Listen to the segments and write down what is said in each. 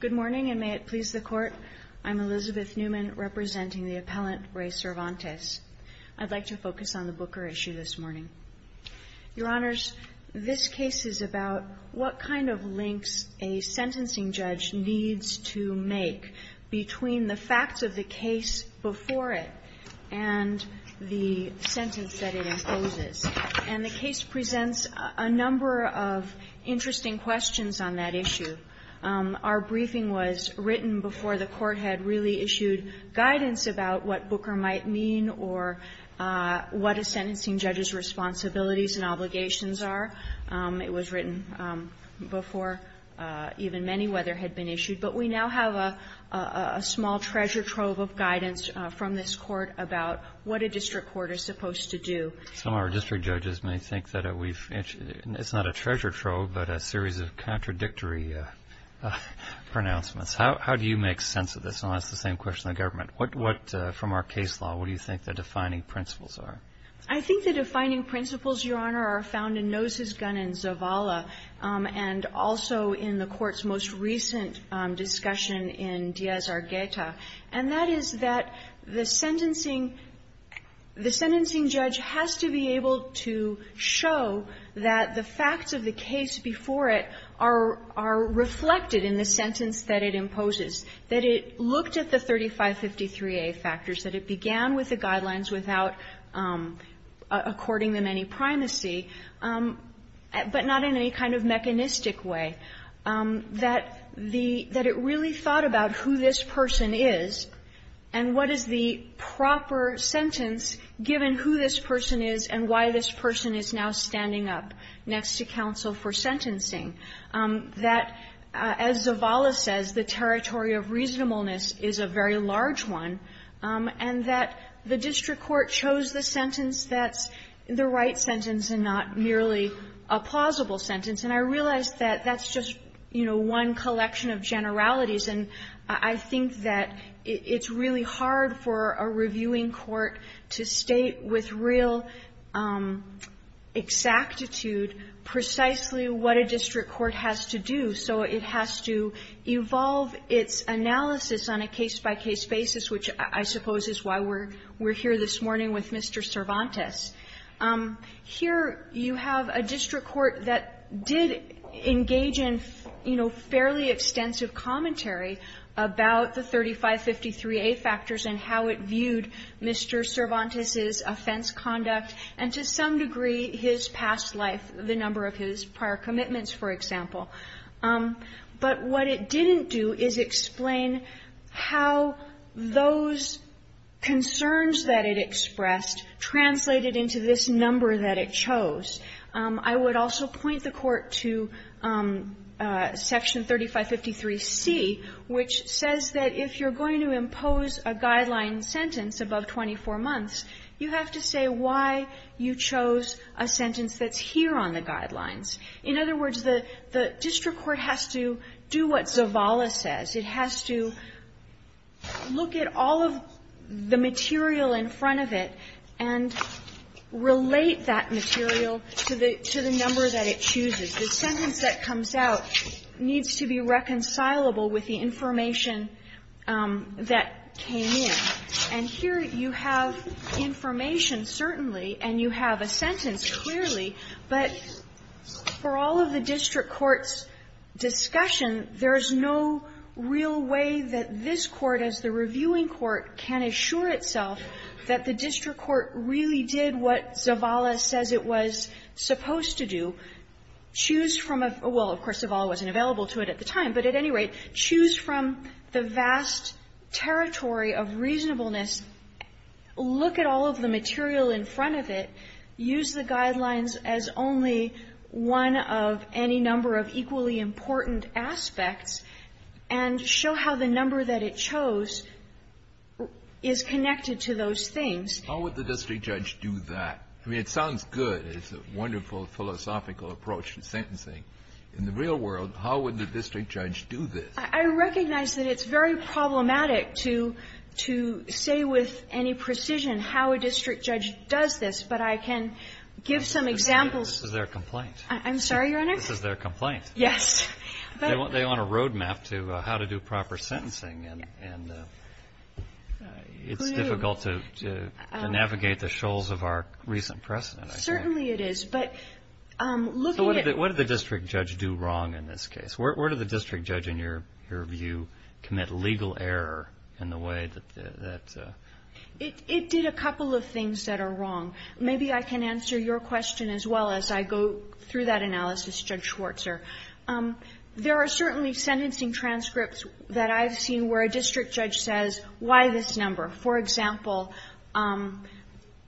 Good morning and may it please the Court. I'm Elizabeth Newman, representing the appellant Ray Cervantes. I'd like to focus on the Booker issue this morning. Your Honors, this case is about what kind of links a sentencing judge needs to make between the facts of the case before it and the sentence that it imposes. And the case presents a number of interesting questions on that issue. Our briefing was written before the Court had really issued guidance about what Booker might mean or what a sentencing judge's responsibilities and obligations are. It was written before even Meniwether had been issued. But we now have a small treasure trove of guidance from this Court about what a district court is supposed to do. Some of our district judges may think that we've – it's not a treasure trove, but a series of contradictory pronouncements. How do you make sense of this? And I'll ask the same question to the government. What, from our case law, what do you think the defining principles are? I think the defining principles, Your Honor, are found in Nose's Gun and Zavala and also in the Court's most recent discussion in Díaz-Argueta, and that is that the sentencing – the sentencing judge has to be able to show that the facts of the case before it are reflected in the sentence that it imposes, that it looked at the 3553A factors, that it began with the guidelines without according them any primacy, but not in any kind of mechanistic way, that the – that it really thought about who this person is and what is the proper sentence given who this person is and why this person is now standing up next to counsel for sentencing, that, as Zavala says, the territory of reasonableness is a very large one, and that the district court chose the sentence that's the right sentence and not merely a plausible sentence. And I realize that that's just, you know, one collection of generalities, and I think that it's really hard for a reviewing court to state with real exactitude precisely what a district court has to do. So it has to evolve its analysis on a case-by-case basis, which I suppose is why we're here this morning with Mr. Cervantes. Here you have a district court that did engage in, you know, fairly extensive commentary about the 3553A factors and how it viewed Mr. Cervantes's offense conduct and, to some degree, his past life, the number of his prior commitments, for example. But what it didn't do is explain how those concerns that it expressed translated into this number that it chose. I would also point the Court to Section 3553C, which says that if you're going to impose a guideline sentence above 24 months, you have to say why you chose a sentence that's here on the guidelines. In other words, the district court has to do what Zavala says. It has to look at all of the material in front of it and relate that material to the number that it chooses. The sentence that comes out needs to be reconcilable with the information that came in. And here you have information, certainly, and you have a sentence clearly, but for all of the district court's discussion, there's no real way that this Court, as the reviewing court, can assure itself that the district court really did what Zavala says it was supposed to do. Choose from a — well, of course, Zavala wasn't available to it at the time, but at any rate, choose from the vast territory of reasonableness, look at all of the material in front of it, use the guidelines as only one of any number of equally important aspects, and show how the number that it chose is connected to those things. Kennedy. How would the district judge do that? I mean, it sounds good. It's a wonderful philosophical approach to sentencing. In the real world, how would the district judge do this? I recognize that it's very problematic to say with any precision how a district judge does this, but I can give some examples. This is their complaint. I'm sorry, Your Honor? This is their complaint. Yes. They want a road map to how to do proper sentencing, and it's difficult to navigate the shoals of our recent precedent. Certainly it is, but looking at — So what did the district judge do wrong in this case? Where did the district judge, in your view, commit legal error in the way that — It did a couple of things that are wrong. Maybe I can answer your question as well as I go through that analysis, Judge Schwarzer. There are certainly sentencing transcripts that I've seen where a district judge says, why this number? For example,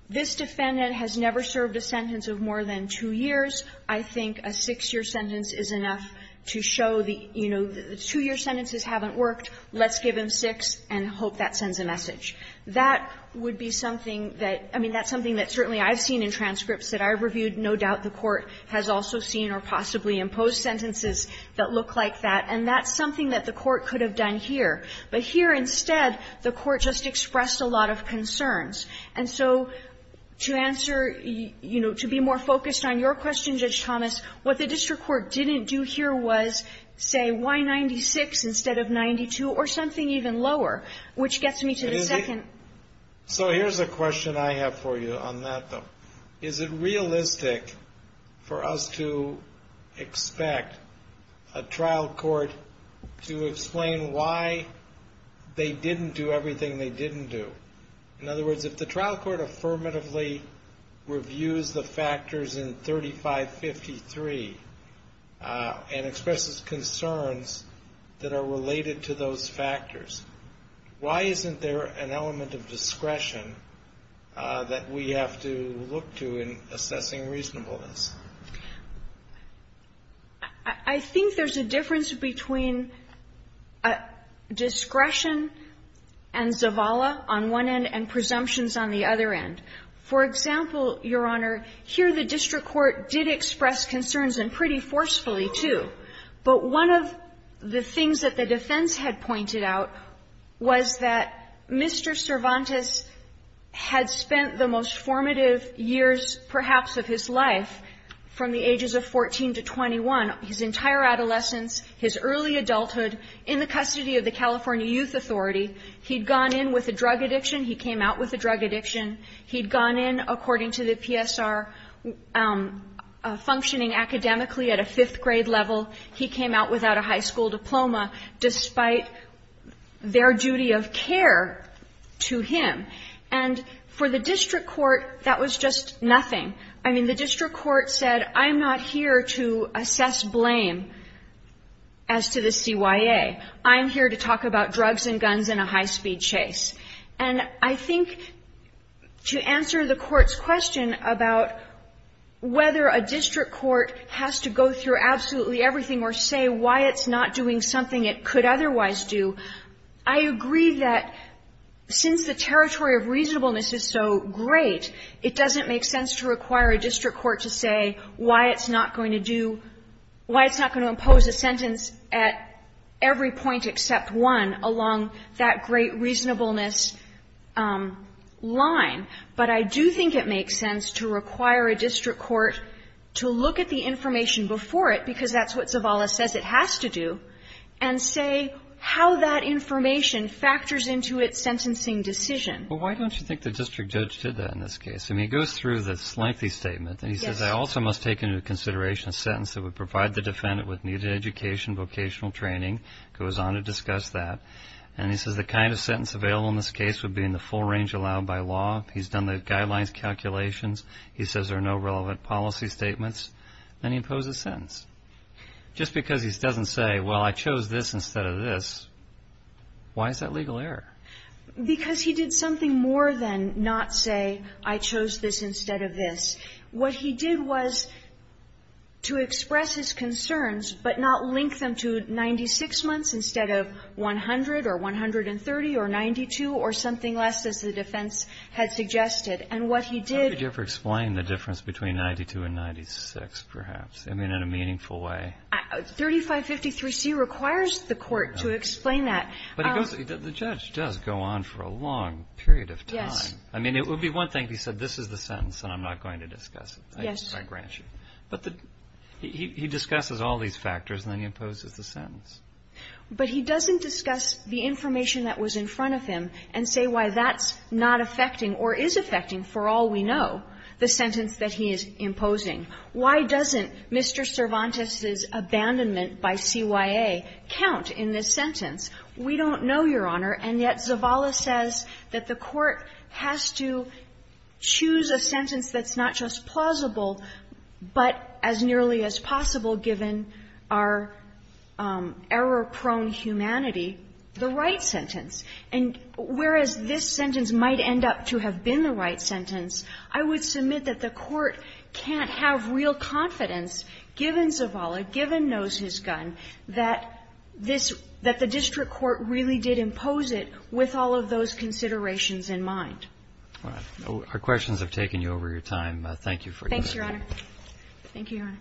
this defendant has never served a sentence of more than two years. I think a six-year sentence is enough to show the, you know, the two-year sentences haven't worked. Let's give him six and hope that sends a message. That would be something that — I mean, that's something that certainly I've seen in transcripts that I've reviewed. No doubt the Court has also seen or possibly imposed sentences that look like that, and that's something that the Court could have done here. But here, instead, the Court just expressed a lot of concerns. And so to answer — you know, to be more focused on your question, Judge Thomas, what the district court didn't do here was say, why 96 instead of 92, or something even lower, which gets me to the second — So here's a question I have for you on that, though. Is it realistic for us to expect a trial court to explain why they didn't do everything they didn't do? In other words, if the trial court affirmatively reviews the factors in 3553 and expresses concerns that are related to those factors, why isn't there an element of discretion that we have to look to in assessing reasonableness? I think there's a difference between discretion and zavala on one end and presumptions on the other end. For example, Your Honor, here the district court did express concerns, and pretty forcefully, too. But one of the things that the defense had pointed out was that Mr. Cervantes had spent the most formative years, perhaps, of his life, from the ages of 14 to 21, his entire adolescence, his early adulthood, in the custody of the California Youth Authority. He'd gone in with a drug addiction. He came out with a drug addiction. He'd gone in, according to the PSR, functioning academically at a fifth grade level. He came out without a high school diploma, despite their duty of care to him. And for the district court, that was just nothing. I mean, the district court said, I'm not here to assess blame as to the CYA. I'm here to talk about drugs and guns in a high-speed chase. And I think to answer the Court's question about whether a district court has to go through absolutely everything or say why it's not doing something it could otherwise do, I agree that since the territory of reasonableness is so great, it doesn't make sense to require a district court to say why it's not going to do – why it's not going to impose a sentence at every point except one along that great reasonableness line. But I do think it makes sense to require a district court to look at the information before it, because that's what Zavala says it has to do, and say how that information factors into its sentencing decision. Well, why don't you think the district judge did that in this case? I mean, he goes through the lengthy statement. Yes. He says, I also must take into consideration a sentence that would provide the defendant with needed education, vocational training, goes on to discuss that, and he says the kind of sentence available in this case would be in the full range allowed by law. He's done the guidelines calculations. He says there are no relevant policy statements. Then he imposes a sentence. Just because he doesn't say, well, I chose this instead of this, why is that legal error? Because he did something more than not say, I chose this instead of this. What he did was to express his concerns, but not link them to 96 months instead of 100 or 130 or 92 or something less, as the defense had suggested. And what he did How could you ever explain the difference between 92 and 96, perhaps, I mean, in a meaningful way? 3553C requires the court to explain that. But he goes, the judge does go on for a long period of time. Yes. I mean, it would be one thing if he said, this is the sentence, and I'm not going to discuss it. Yes. I grant you. But he discusses all these factors, and then he imposes the sentence. But he doesn't discuss the information that was in front of him and say why that's not affecting or is affecting, for all we know, the sentence that he is imposing. Why doesn't Mr. Cervantes's abandonment by CYA count in this sentence? We don't know, Your Honor, and yet Zavala says that the court has to choose a sentence that's not just plausible, but as nearly as possible, given our error-prone humanity, the right sentence. And whereas this sentence might end up to have been the right sentence, I would submit that the court can't have real confidence, given Zavala, given knows his gun, that this – that the district court really did impose it with all of those considerations in mind. All right. Our questions have taken you over your time. Thank you for your time. Thanks, Your Honor. Thank you, Your Honor.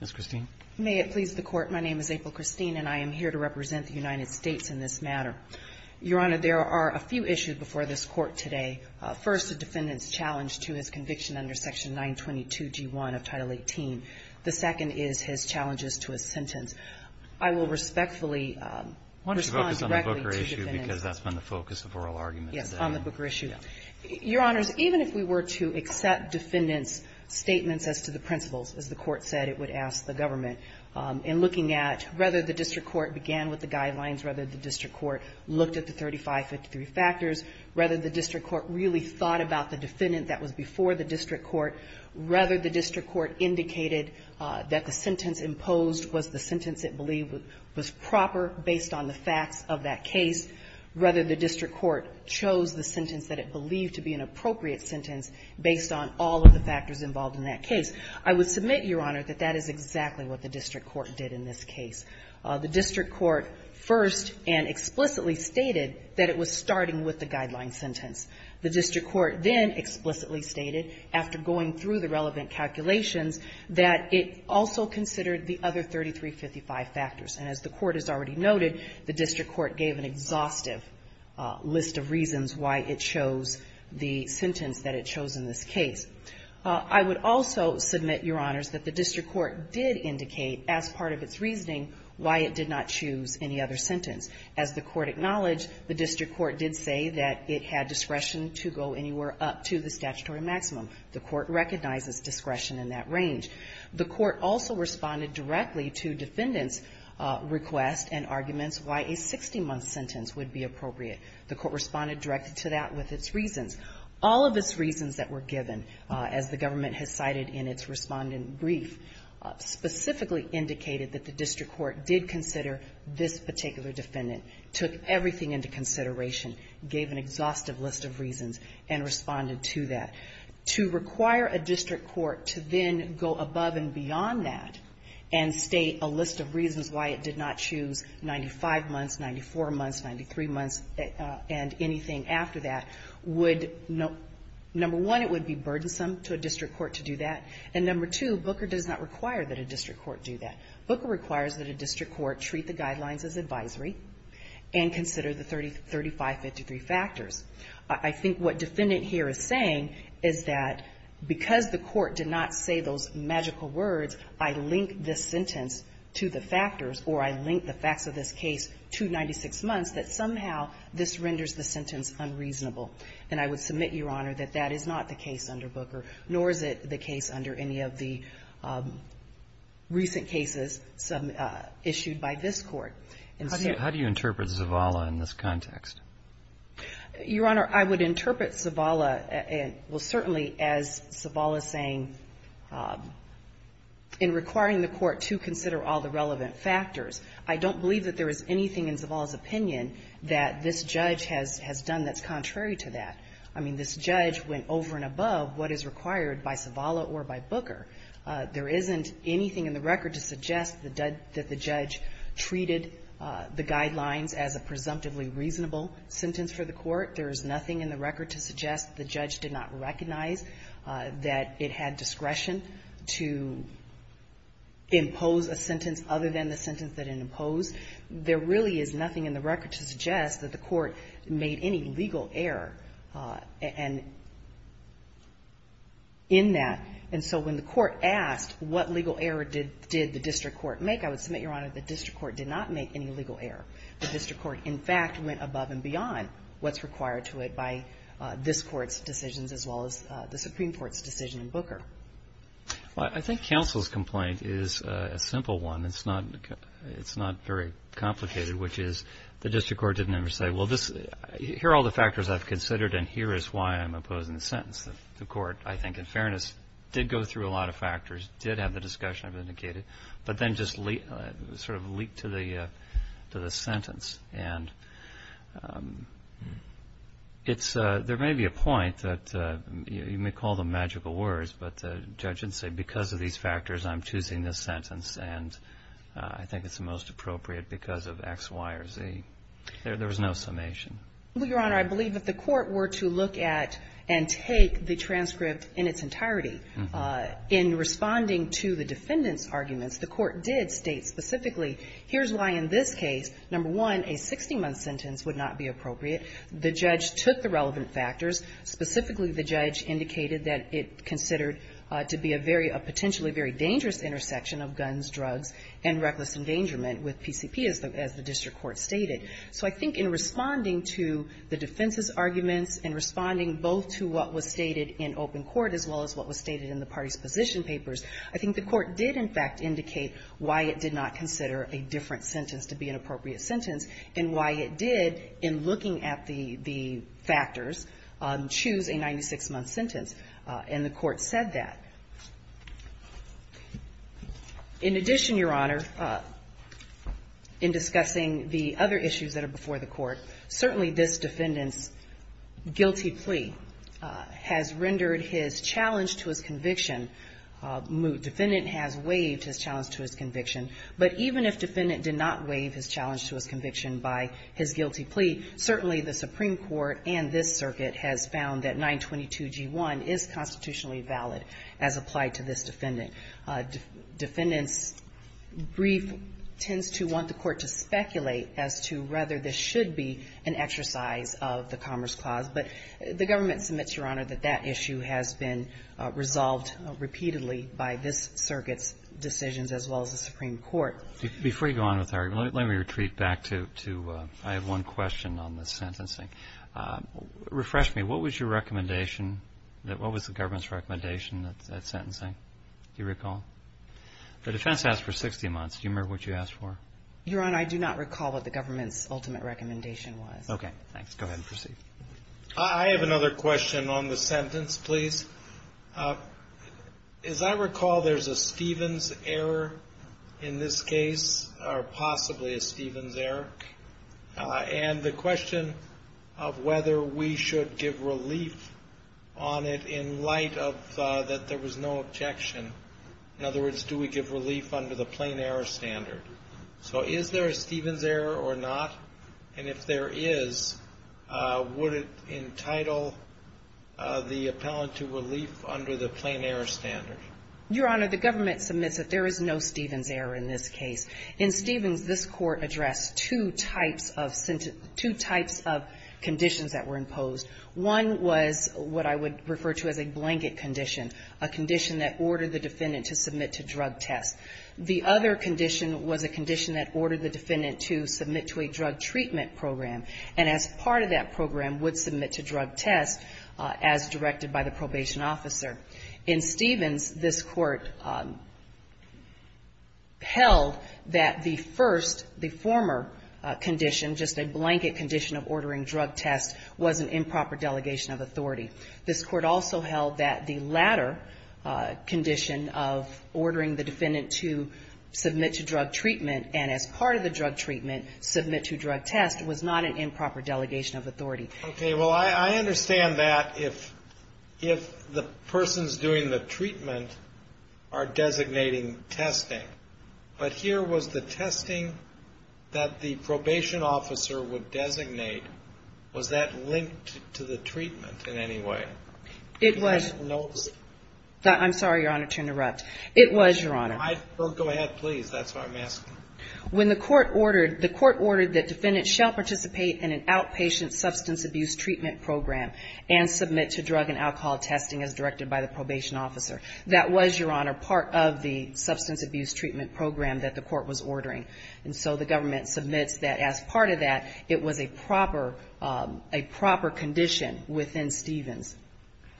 Ms. Christine. May it please the Court. My name is April Christine, and I am here to represent the United States in this matter. Your Honor, there are a few issues before this Court today. First, a defendant's challenge to his conviction under Section 922g1 of Title 18. The second is his challenges to his sentence. I will respectfully respond directly to the defendants' question. I want to focus on the Booker issue, because that's been the focus of oral arguments today. Yes, on the Booker issue. Your Honors, even if we were to accept defendants' statements as to the principles, as the Court said it would ask the government in looking at whether the district court began with the guidelines, whether the district court looked at the 3553 factors, whether the district court really thought about the defendant that was before the district court, whether the district court indicated that the sentence imposed was the sentence it believed was proper based on the facts of that case, whether the district court chose the sentence that it believed to be an appropriate sentence based on all of the factors involved in that case. I would submit, Your Honor, that that is exactly what the district court did in this case. The district court first and explicitly stated that it was starting with the guideline sentence. The district court then explicitly stated, after going through the relevant calculations, that it also considered the other 3355 factors. And as the Court has already noted, the district court gave an exhaustive list of reasons why it chose the sentence that it chose in this case. I would also submit, Your Honors, that the district court did indicate, as part of its reasoning, why it did not choose any other sentence. As the Court acknowledged, the district court did say that it had discretion to go anywhere up to the statutory maximum. The Court recognizes discretion in that range. The Court also responded directly to defendants' request and arguments why a 60-month sentence would be appropriate. The Court responded directly to that with its reasons. All of its reasons that were given, as the government has cited in its respondent brief, specifically indicated that the district court did consider this particular defendant, took everything into consideration, gave an exhaustive list of reasons, and responded to that. To require a district court to then go above and beyond that and state a list of reasons why it did not choose 95 months, 94 months, 93 months, and anything after that would, number one, it would be burdensome to a district court to do that. And number two, Booker does not require that a district court do that. Booker requires that a district court treat the guidelines as advisory and consider the 35-53 factors. I think what defendant here is saying is that because the court did not say those magical words, I link this sentence to the factors, or I link the facts of this case to 96 months, that somehow this renders the sentence unreasonable. And I would submit, Your Honor, that that is not the case under Booker, nor is it the case under any of the recent cases issued by this Court. And so the question is, how do you interpret Zavala in this context? Your Honor, I would interpret Zavala, well, certainly as Zavala is saying, in requiring the Court to consider all the relevant factors, I don't believe that there is anything in Zavala's opinion that this judge has done that's contrary to that. I mean, this judge went over and above what is required by Zavala or by Booker. There isn't anything in the record to suggest that the judge treated the guidelines as a presumptively reasonable sentence for the Court. There is nothing in the record to suggest the judge did not recognize that it had discretion to impose a sentence other than the sentence that it imposed. There really is nothing in the record to suggest that the Court made any legal error in that. And so when the Court asked what legal error did the district court make, I would submit, Your Honor, the district court did not make any legal error. The district court, in fact, went above and beyond what's required to it by this Court's decisions as well as the Supreme Court's decision in Booker. Well, I think counsel's complaint is a simple one. It's not very complicated, which is the district court didn't ever say, well, here are all the factors I've considered, and here is why I'm opposing the sentence. The Court, I think, in fairness, did go through a lot of factors, did have the discussion I've indicated, but then just sort of leaked to the sentence. And there may be a point that you may call them magical words, but the judge didn't say, because of these factors, I'm choosing this sentence. And I think it's the most appropriate because of X, Y, or Z. There was no summation. Well, Your Honor, I believe if the Court were to look at and take the transcript in its entirety, in responding to the defendant's arguments, the Court did state specifically, here's why in this case, number one, a 60-month sentence would not be appropriate. The judge took the relevant factors. Specifically, the judge indicated that it considered to be a very – a potentially very dangerous intersection of guns, drugs, and reckless endangerment with PCP, as the district court stated. So I think in responding to the defense's arguments, in responding both to what was stated in open court as well as what was stated in the parties' position papers, I think the Court did, in fact, indicate why it did not consider a different sentence to be an appropriate sentence, and why it did, in looking at the factors, choose a 96-month sentence. And the Court said that. In addition, Your Honor, in discussing the other issues that are before the Court, certainly this defendant's guilty plea has rendered his challenge to his conviction moot. Defendant has waived his challenge to his conviction, but even if defendant did not waive his challenge to his conviction by his guilty plea, certainly the Supreme Court's ruling in 2G1 is constitutionally valid, as applied to this defendant. Defendant's brief tends to want the Court to speculate as to whether this should be an exercise of the Commerce Clause, but the government submits, Your Honor, that that issue has been resolved repeatedly by this circuit's decisions as well as the Supreme Court. Before you go on with the argument, let me retreat back to – I have one question on the sentencing. Refresh me. What was your recommendation? What was the government's recommendation at sentencing? Do you recall? The defense asked for 60 months. Do you remember what you asked for? Your Honor, I do not recall what the government's ultimate recommendation was. Okay. Thanks. Go ahead and proceed. I have another question on the sentence, please. As I recall, there's a Stevens error in this case, or possibly a Stevens error. And the question of whether we should give relief on it in light of that there was no objection. In other words, do we give relief under the plain error standard? So is there a Stevens error or not? And if there is, would it entitle the appellant to relief under the plain error standard? Your Honor, the government submits that there is no Stevens error in this case. In Stevens, this court addressed two types of conditions that were imposed. One was what I would refer to as a blanket condition, a condition that ordered the defendant to submit to drug tests. The other condition was a condition that ordered the defendant to submit to a drug treatment program. And as part of that program, would submit to drug tests as directed by the probation officer. In Stevens, this court held that the first, the former condition, just a blanket condition of ordering drug tests, was an improper delegation of authority. This court also held that the latter condition of ordering the defendant to submit to drug treatment and as part of the drug treatment, submit to drug tests, was not an improper delegation of authority. Okay. Well, I understand that if the person's doing the treatment are designating testing. But here was the testing that the probation officer would designate. Was that linked to the treatment in any way? It was. I'm sorry, Your Honor, to interrupt. It was, Your Honor. Go ahead, please. That's what I'm asking. When the court ordered, the court ordered the defendant shall participate in an outpatient substance abuse treatment program and submit to drug and alcohol testing as directed by the probation officer. That was, Your Honor, part of the substance abuse treatment program that the court was ordering. And so the government submits that as part of that, it was a proper condition within Stevens.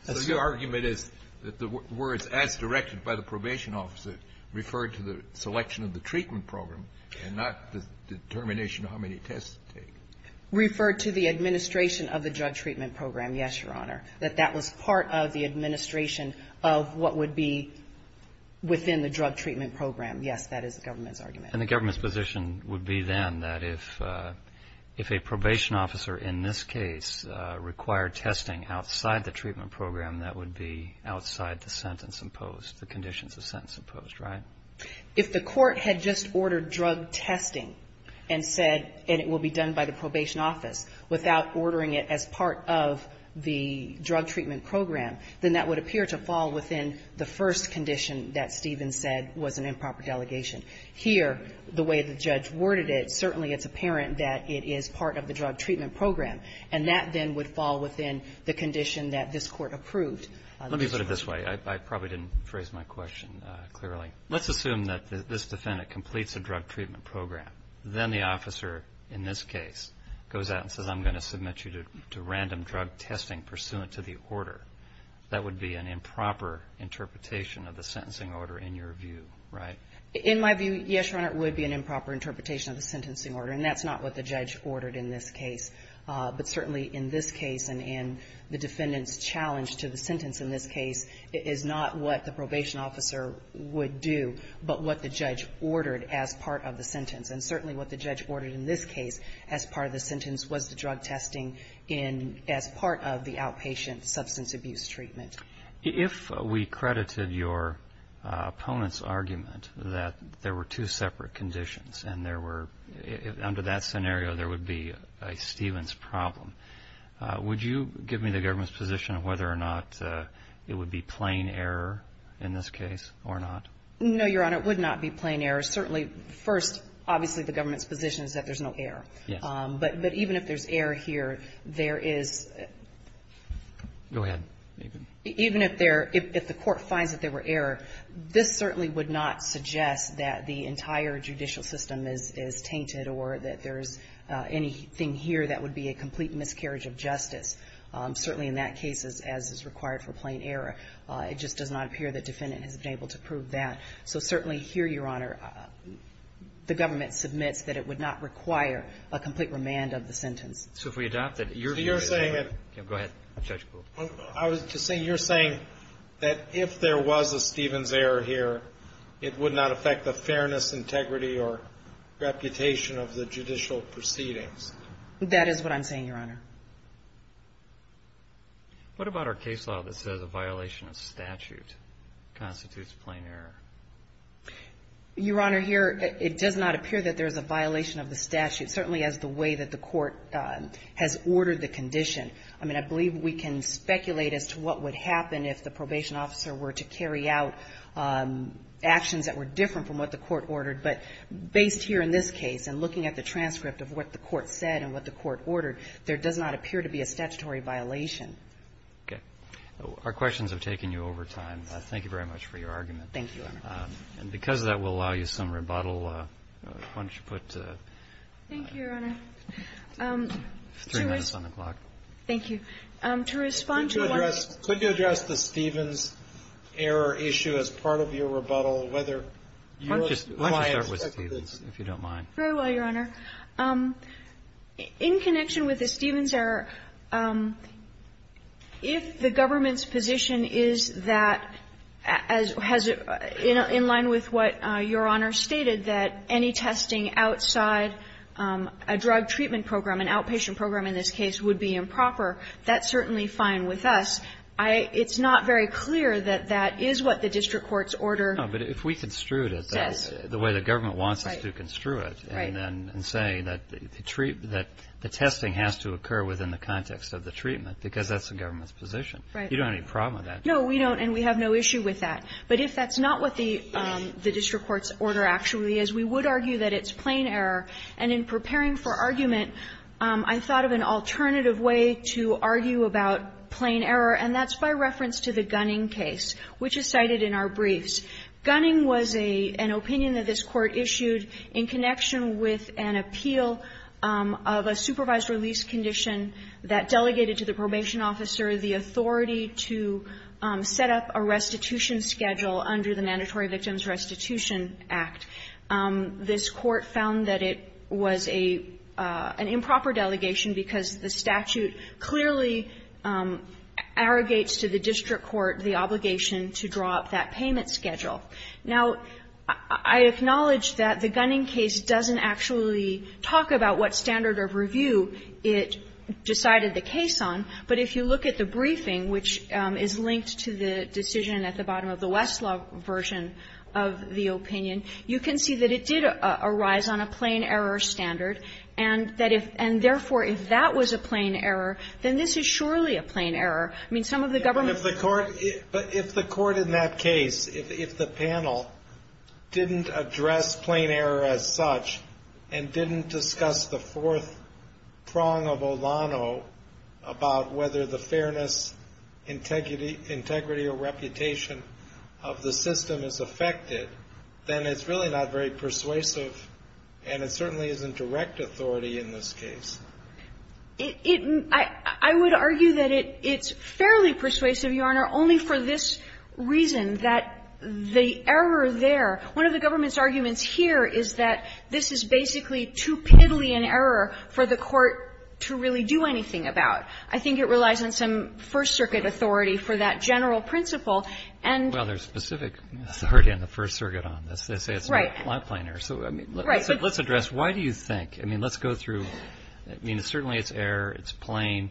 So your argument is that the words as directed by the probation officer referred to the selection of the treatment program and not the determination of how many tests to take? Referred to the administration of the drug treatment program, yes, Your Honor. That that was part of the administration of what would be within the drug treatment program. Yes, that is the government's argument. And the government's position would be then that if a probation officer in this case required testing outside the treatment program, that would be outside the sentence imposed, the conditions of sentence imposed, right? If the court had just ordered drug testing and said, and it will be done by the probation office, without ordering it as part of the drug treatment program, then that would appear to fall within the first condition that Stevens said was an improper delegation. Here, the way the judge worded it, certainly it's apparent that it is part of the drug treatment program, and that then would fall within the condition that this court approved. Let me put it this way. I probably didn't phrase my question clearly. Let's assume that this defendant completes a drug treatment program. Then the officer, in this case, goes out and says, I'm going to submit you to random drug testing pursuant to the order. That would be an improper interpretation of the sentencing order in your view, right? In my view, yes, Your Honor, it would be an improper interpretation of the sentencing order, and that's not what the judge ordered in this case. But certainly in this case and in the defendant's challenge to the sentence in this case is not what the probation officer would do, but what the judge ordered as part of the sentence. And certainly what the judge ordered in this case as part of the sentence was the drug testing as part of the outpatient substance abuse treatment. If we credited your opponent's argument that there were two separate conditions and there were, under that scenario, there would be a Stevens problem, would you give me the government's position on whether or not it would be plain error in this case or not? No, Your Honor. It would not be plain error. Certainly, first, obviously the government's position is that there's no error. Yes. But even if there's error here, there is. Go ahead. Even if the court finds that there were error, this certainly would not suggest that the entire judicial system is tainted or that there's anything here that would be a complete miscarriage of justice. Certainly in that case, as is required for plain error, it just does not appear that the defendant has been able to prove that. So certainly here, Your Honor, the government submits that it would not require a complete remand of the sentence. So if we adopt it, your view is... So you're saying that... Go ahead, Judge Kuhl. I was just saying, you're saying that if there was a Stevens error here, it would not affect the fairness, integrity, or reputation of the judicial proceedings. That is what I'm saying, Your Honor. What about our case law that says a violation of statute constitutes plain error? Your Honor, here, it does not appear that there's a violation of the statute, certainly as the way that the court has ordered the condition. I mean, I believe we can speculate as to what would happen if the probation officer were to carry out actions that were different from what the court ordered. But based here in this case and looking at the transcript of what the court said and what the court ordered, there does not appear to be a statutory violation. Okay. Our questions have taken you over time. Thank you very much for your argument. Thank you, Your Honor. And because of that, we'll allow you some rebuttal. Why don't you put... Thank you, Your Honor. Three minutes on the clock. Thank you. To respond to... Could you address the Stevens error issue as part of your rebuttal, whether... Why don't you start with Stevens, if you don't mind. Very well, Your Honor. In connection with the Stevens error, if the government's position is that, as has been in line with what Your Honor stated, that any testing outside a drug treatment program, an outpatient program in this case, would be improper, that's certainly fine with us. It's not very clear that that is what the district court's order... No, but if we construed it the way the government wants us to construe it and then say that the testing has to occur within the context of the treatment, because that's the government's position. Right. You don't have any problem with that. No, we don't, and we have no issue with that. But if that's not what the district court's order actually is, we would argue that it's plain error. And in preparing for argument, I thought of an alternative way to argue about plain error, and that's by reference to the Gunning case, which is cited in our briefs. Gunning was an opinion that this Court issued in connection with an appeal of a supervised release condition that delegated to the probation officer the authority to set up a restitution schedule under the Mandatory Victims Restitution Act. This Court found that it was an improper delegation because the statute clearly arrogates to the district court the obligation to draw up that payment schedule. Now, I acknowledge that the Gunning case doesn't actually talk about what standard of review it decided the case on, but if you look at the briefing, which is linked to the decision at the bottom of the Westlaw version of the opinion, you can see that it did arise on a plain error standard, and therefore, if that was a plain error, then this is surely a plain error. I mean, some of the government ---- But if the court in that case, if the panel didn't address plain error as such and didn't discuss the fourth prong of Olano about whether the fairness, integrity or reputation of the system is affected, then it's really not very persuasive and it certainly isn't direct authority in this case. It ---- I would argue that it's fairly persuasive, Your Honor, only for this reason that the error there ---- one of the government's arguments here is that this is basically too piddly an error for the court to really do anything about. I think it relies on some First Circuit authority for that general principle. And ---- Well, there's specific authority on the First Circuit on this. They say it's not plain error. So, I mean, let's address why do you think ---- I mean, let's go through ---- I mean, certainly it's error, it's plain.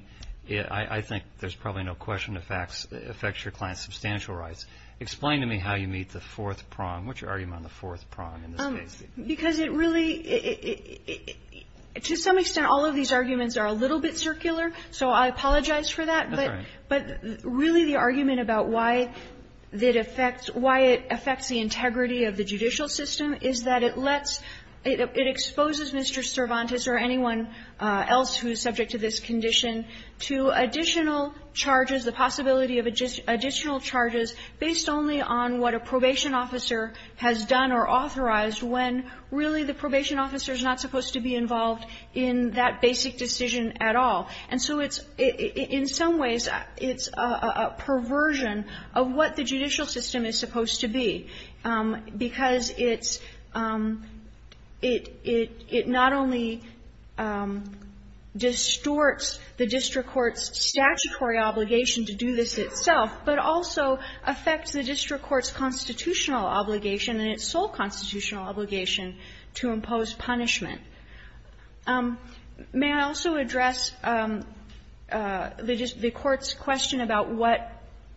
I think there's probably no question it affects your client's substantial rights. Explain to me how you meet the fourth prong. What's your argument on the fourth prong in this case? Because it really ---- to some extent, all of these arguments are a little bit circular, so I apologize for that. That's all right. But really, the argument about why it affects the integrity of the judicial system is that it lets ---- it exposes Mr. Cervantes or anyone else who is subject to this condition to additional charges, the possibility of additional charges based only on what a probation officer has done or authorized when, really, the probation officer is not supposed to be involved in that basic decision at all. And so it's ---- in some ways, it's a perversion of what the judicial system is supposed to be, because it's ---- it not only distorts the district court's statutory obligation to do this itself, but also affects the district court's constitutional obligation and its sole constitutional obligation to impose punishment. May I also address the court's question about what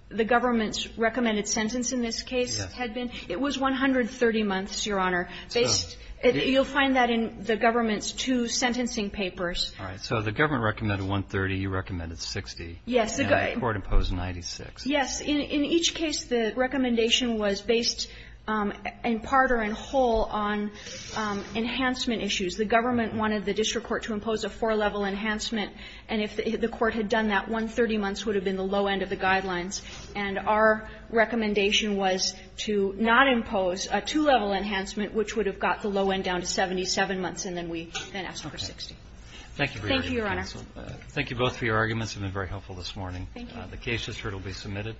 the government's recommended sentence in this case had been? It was 130 months, Your Honor. Based ---- you'll find that in the government's two sentencing papers. All right. So the government recommended 130, you recommended 60. Yes. And the court imposed 96. Yes. In each case, the recommendation was based in part or in whole on enhancement issues. The government wanted the district court to impose a four-level enhancement, and if the court had done that, 130 months would have been the low end of the guidelines. And our recommendation was to not impose a two-level enhancement, which would have got the low end down to 77 months, and then we then asked for 60. Thank you, Your Honor. Thank you, counsel. Thank you both for your arguments. They've been very helpful this morning. Thank you. The case has heard will be submitted.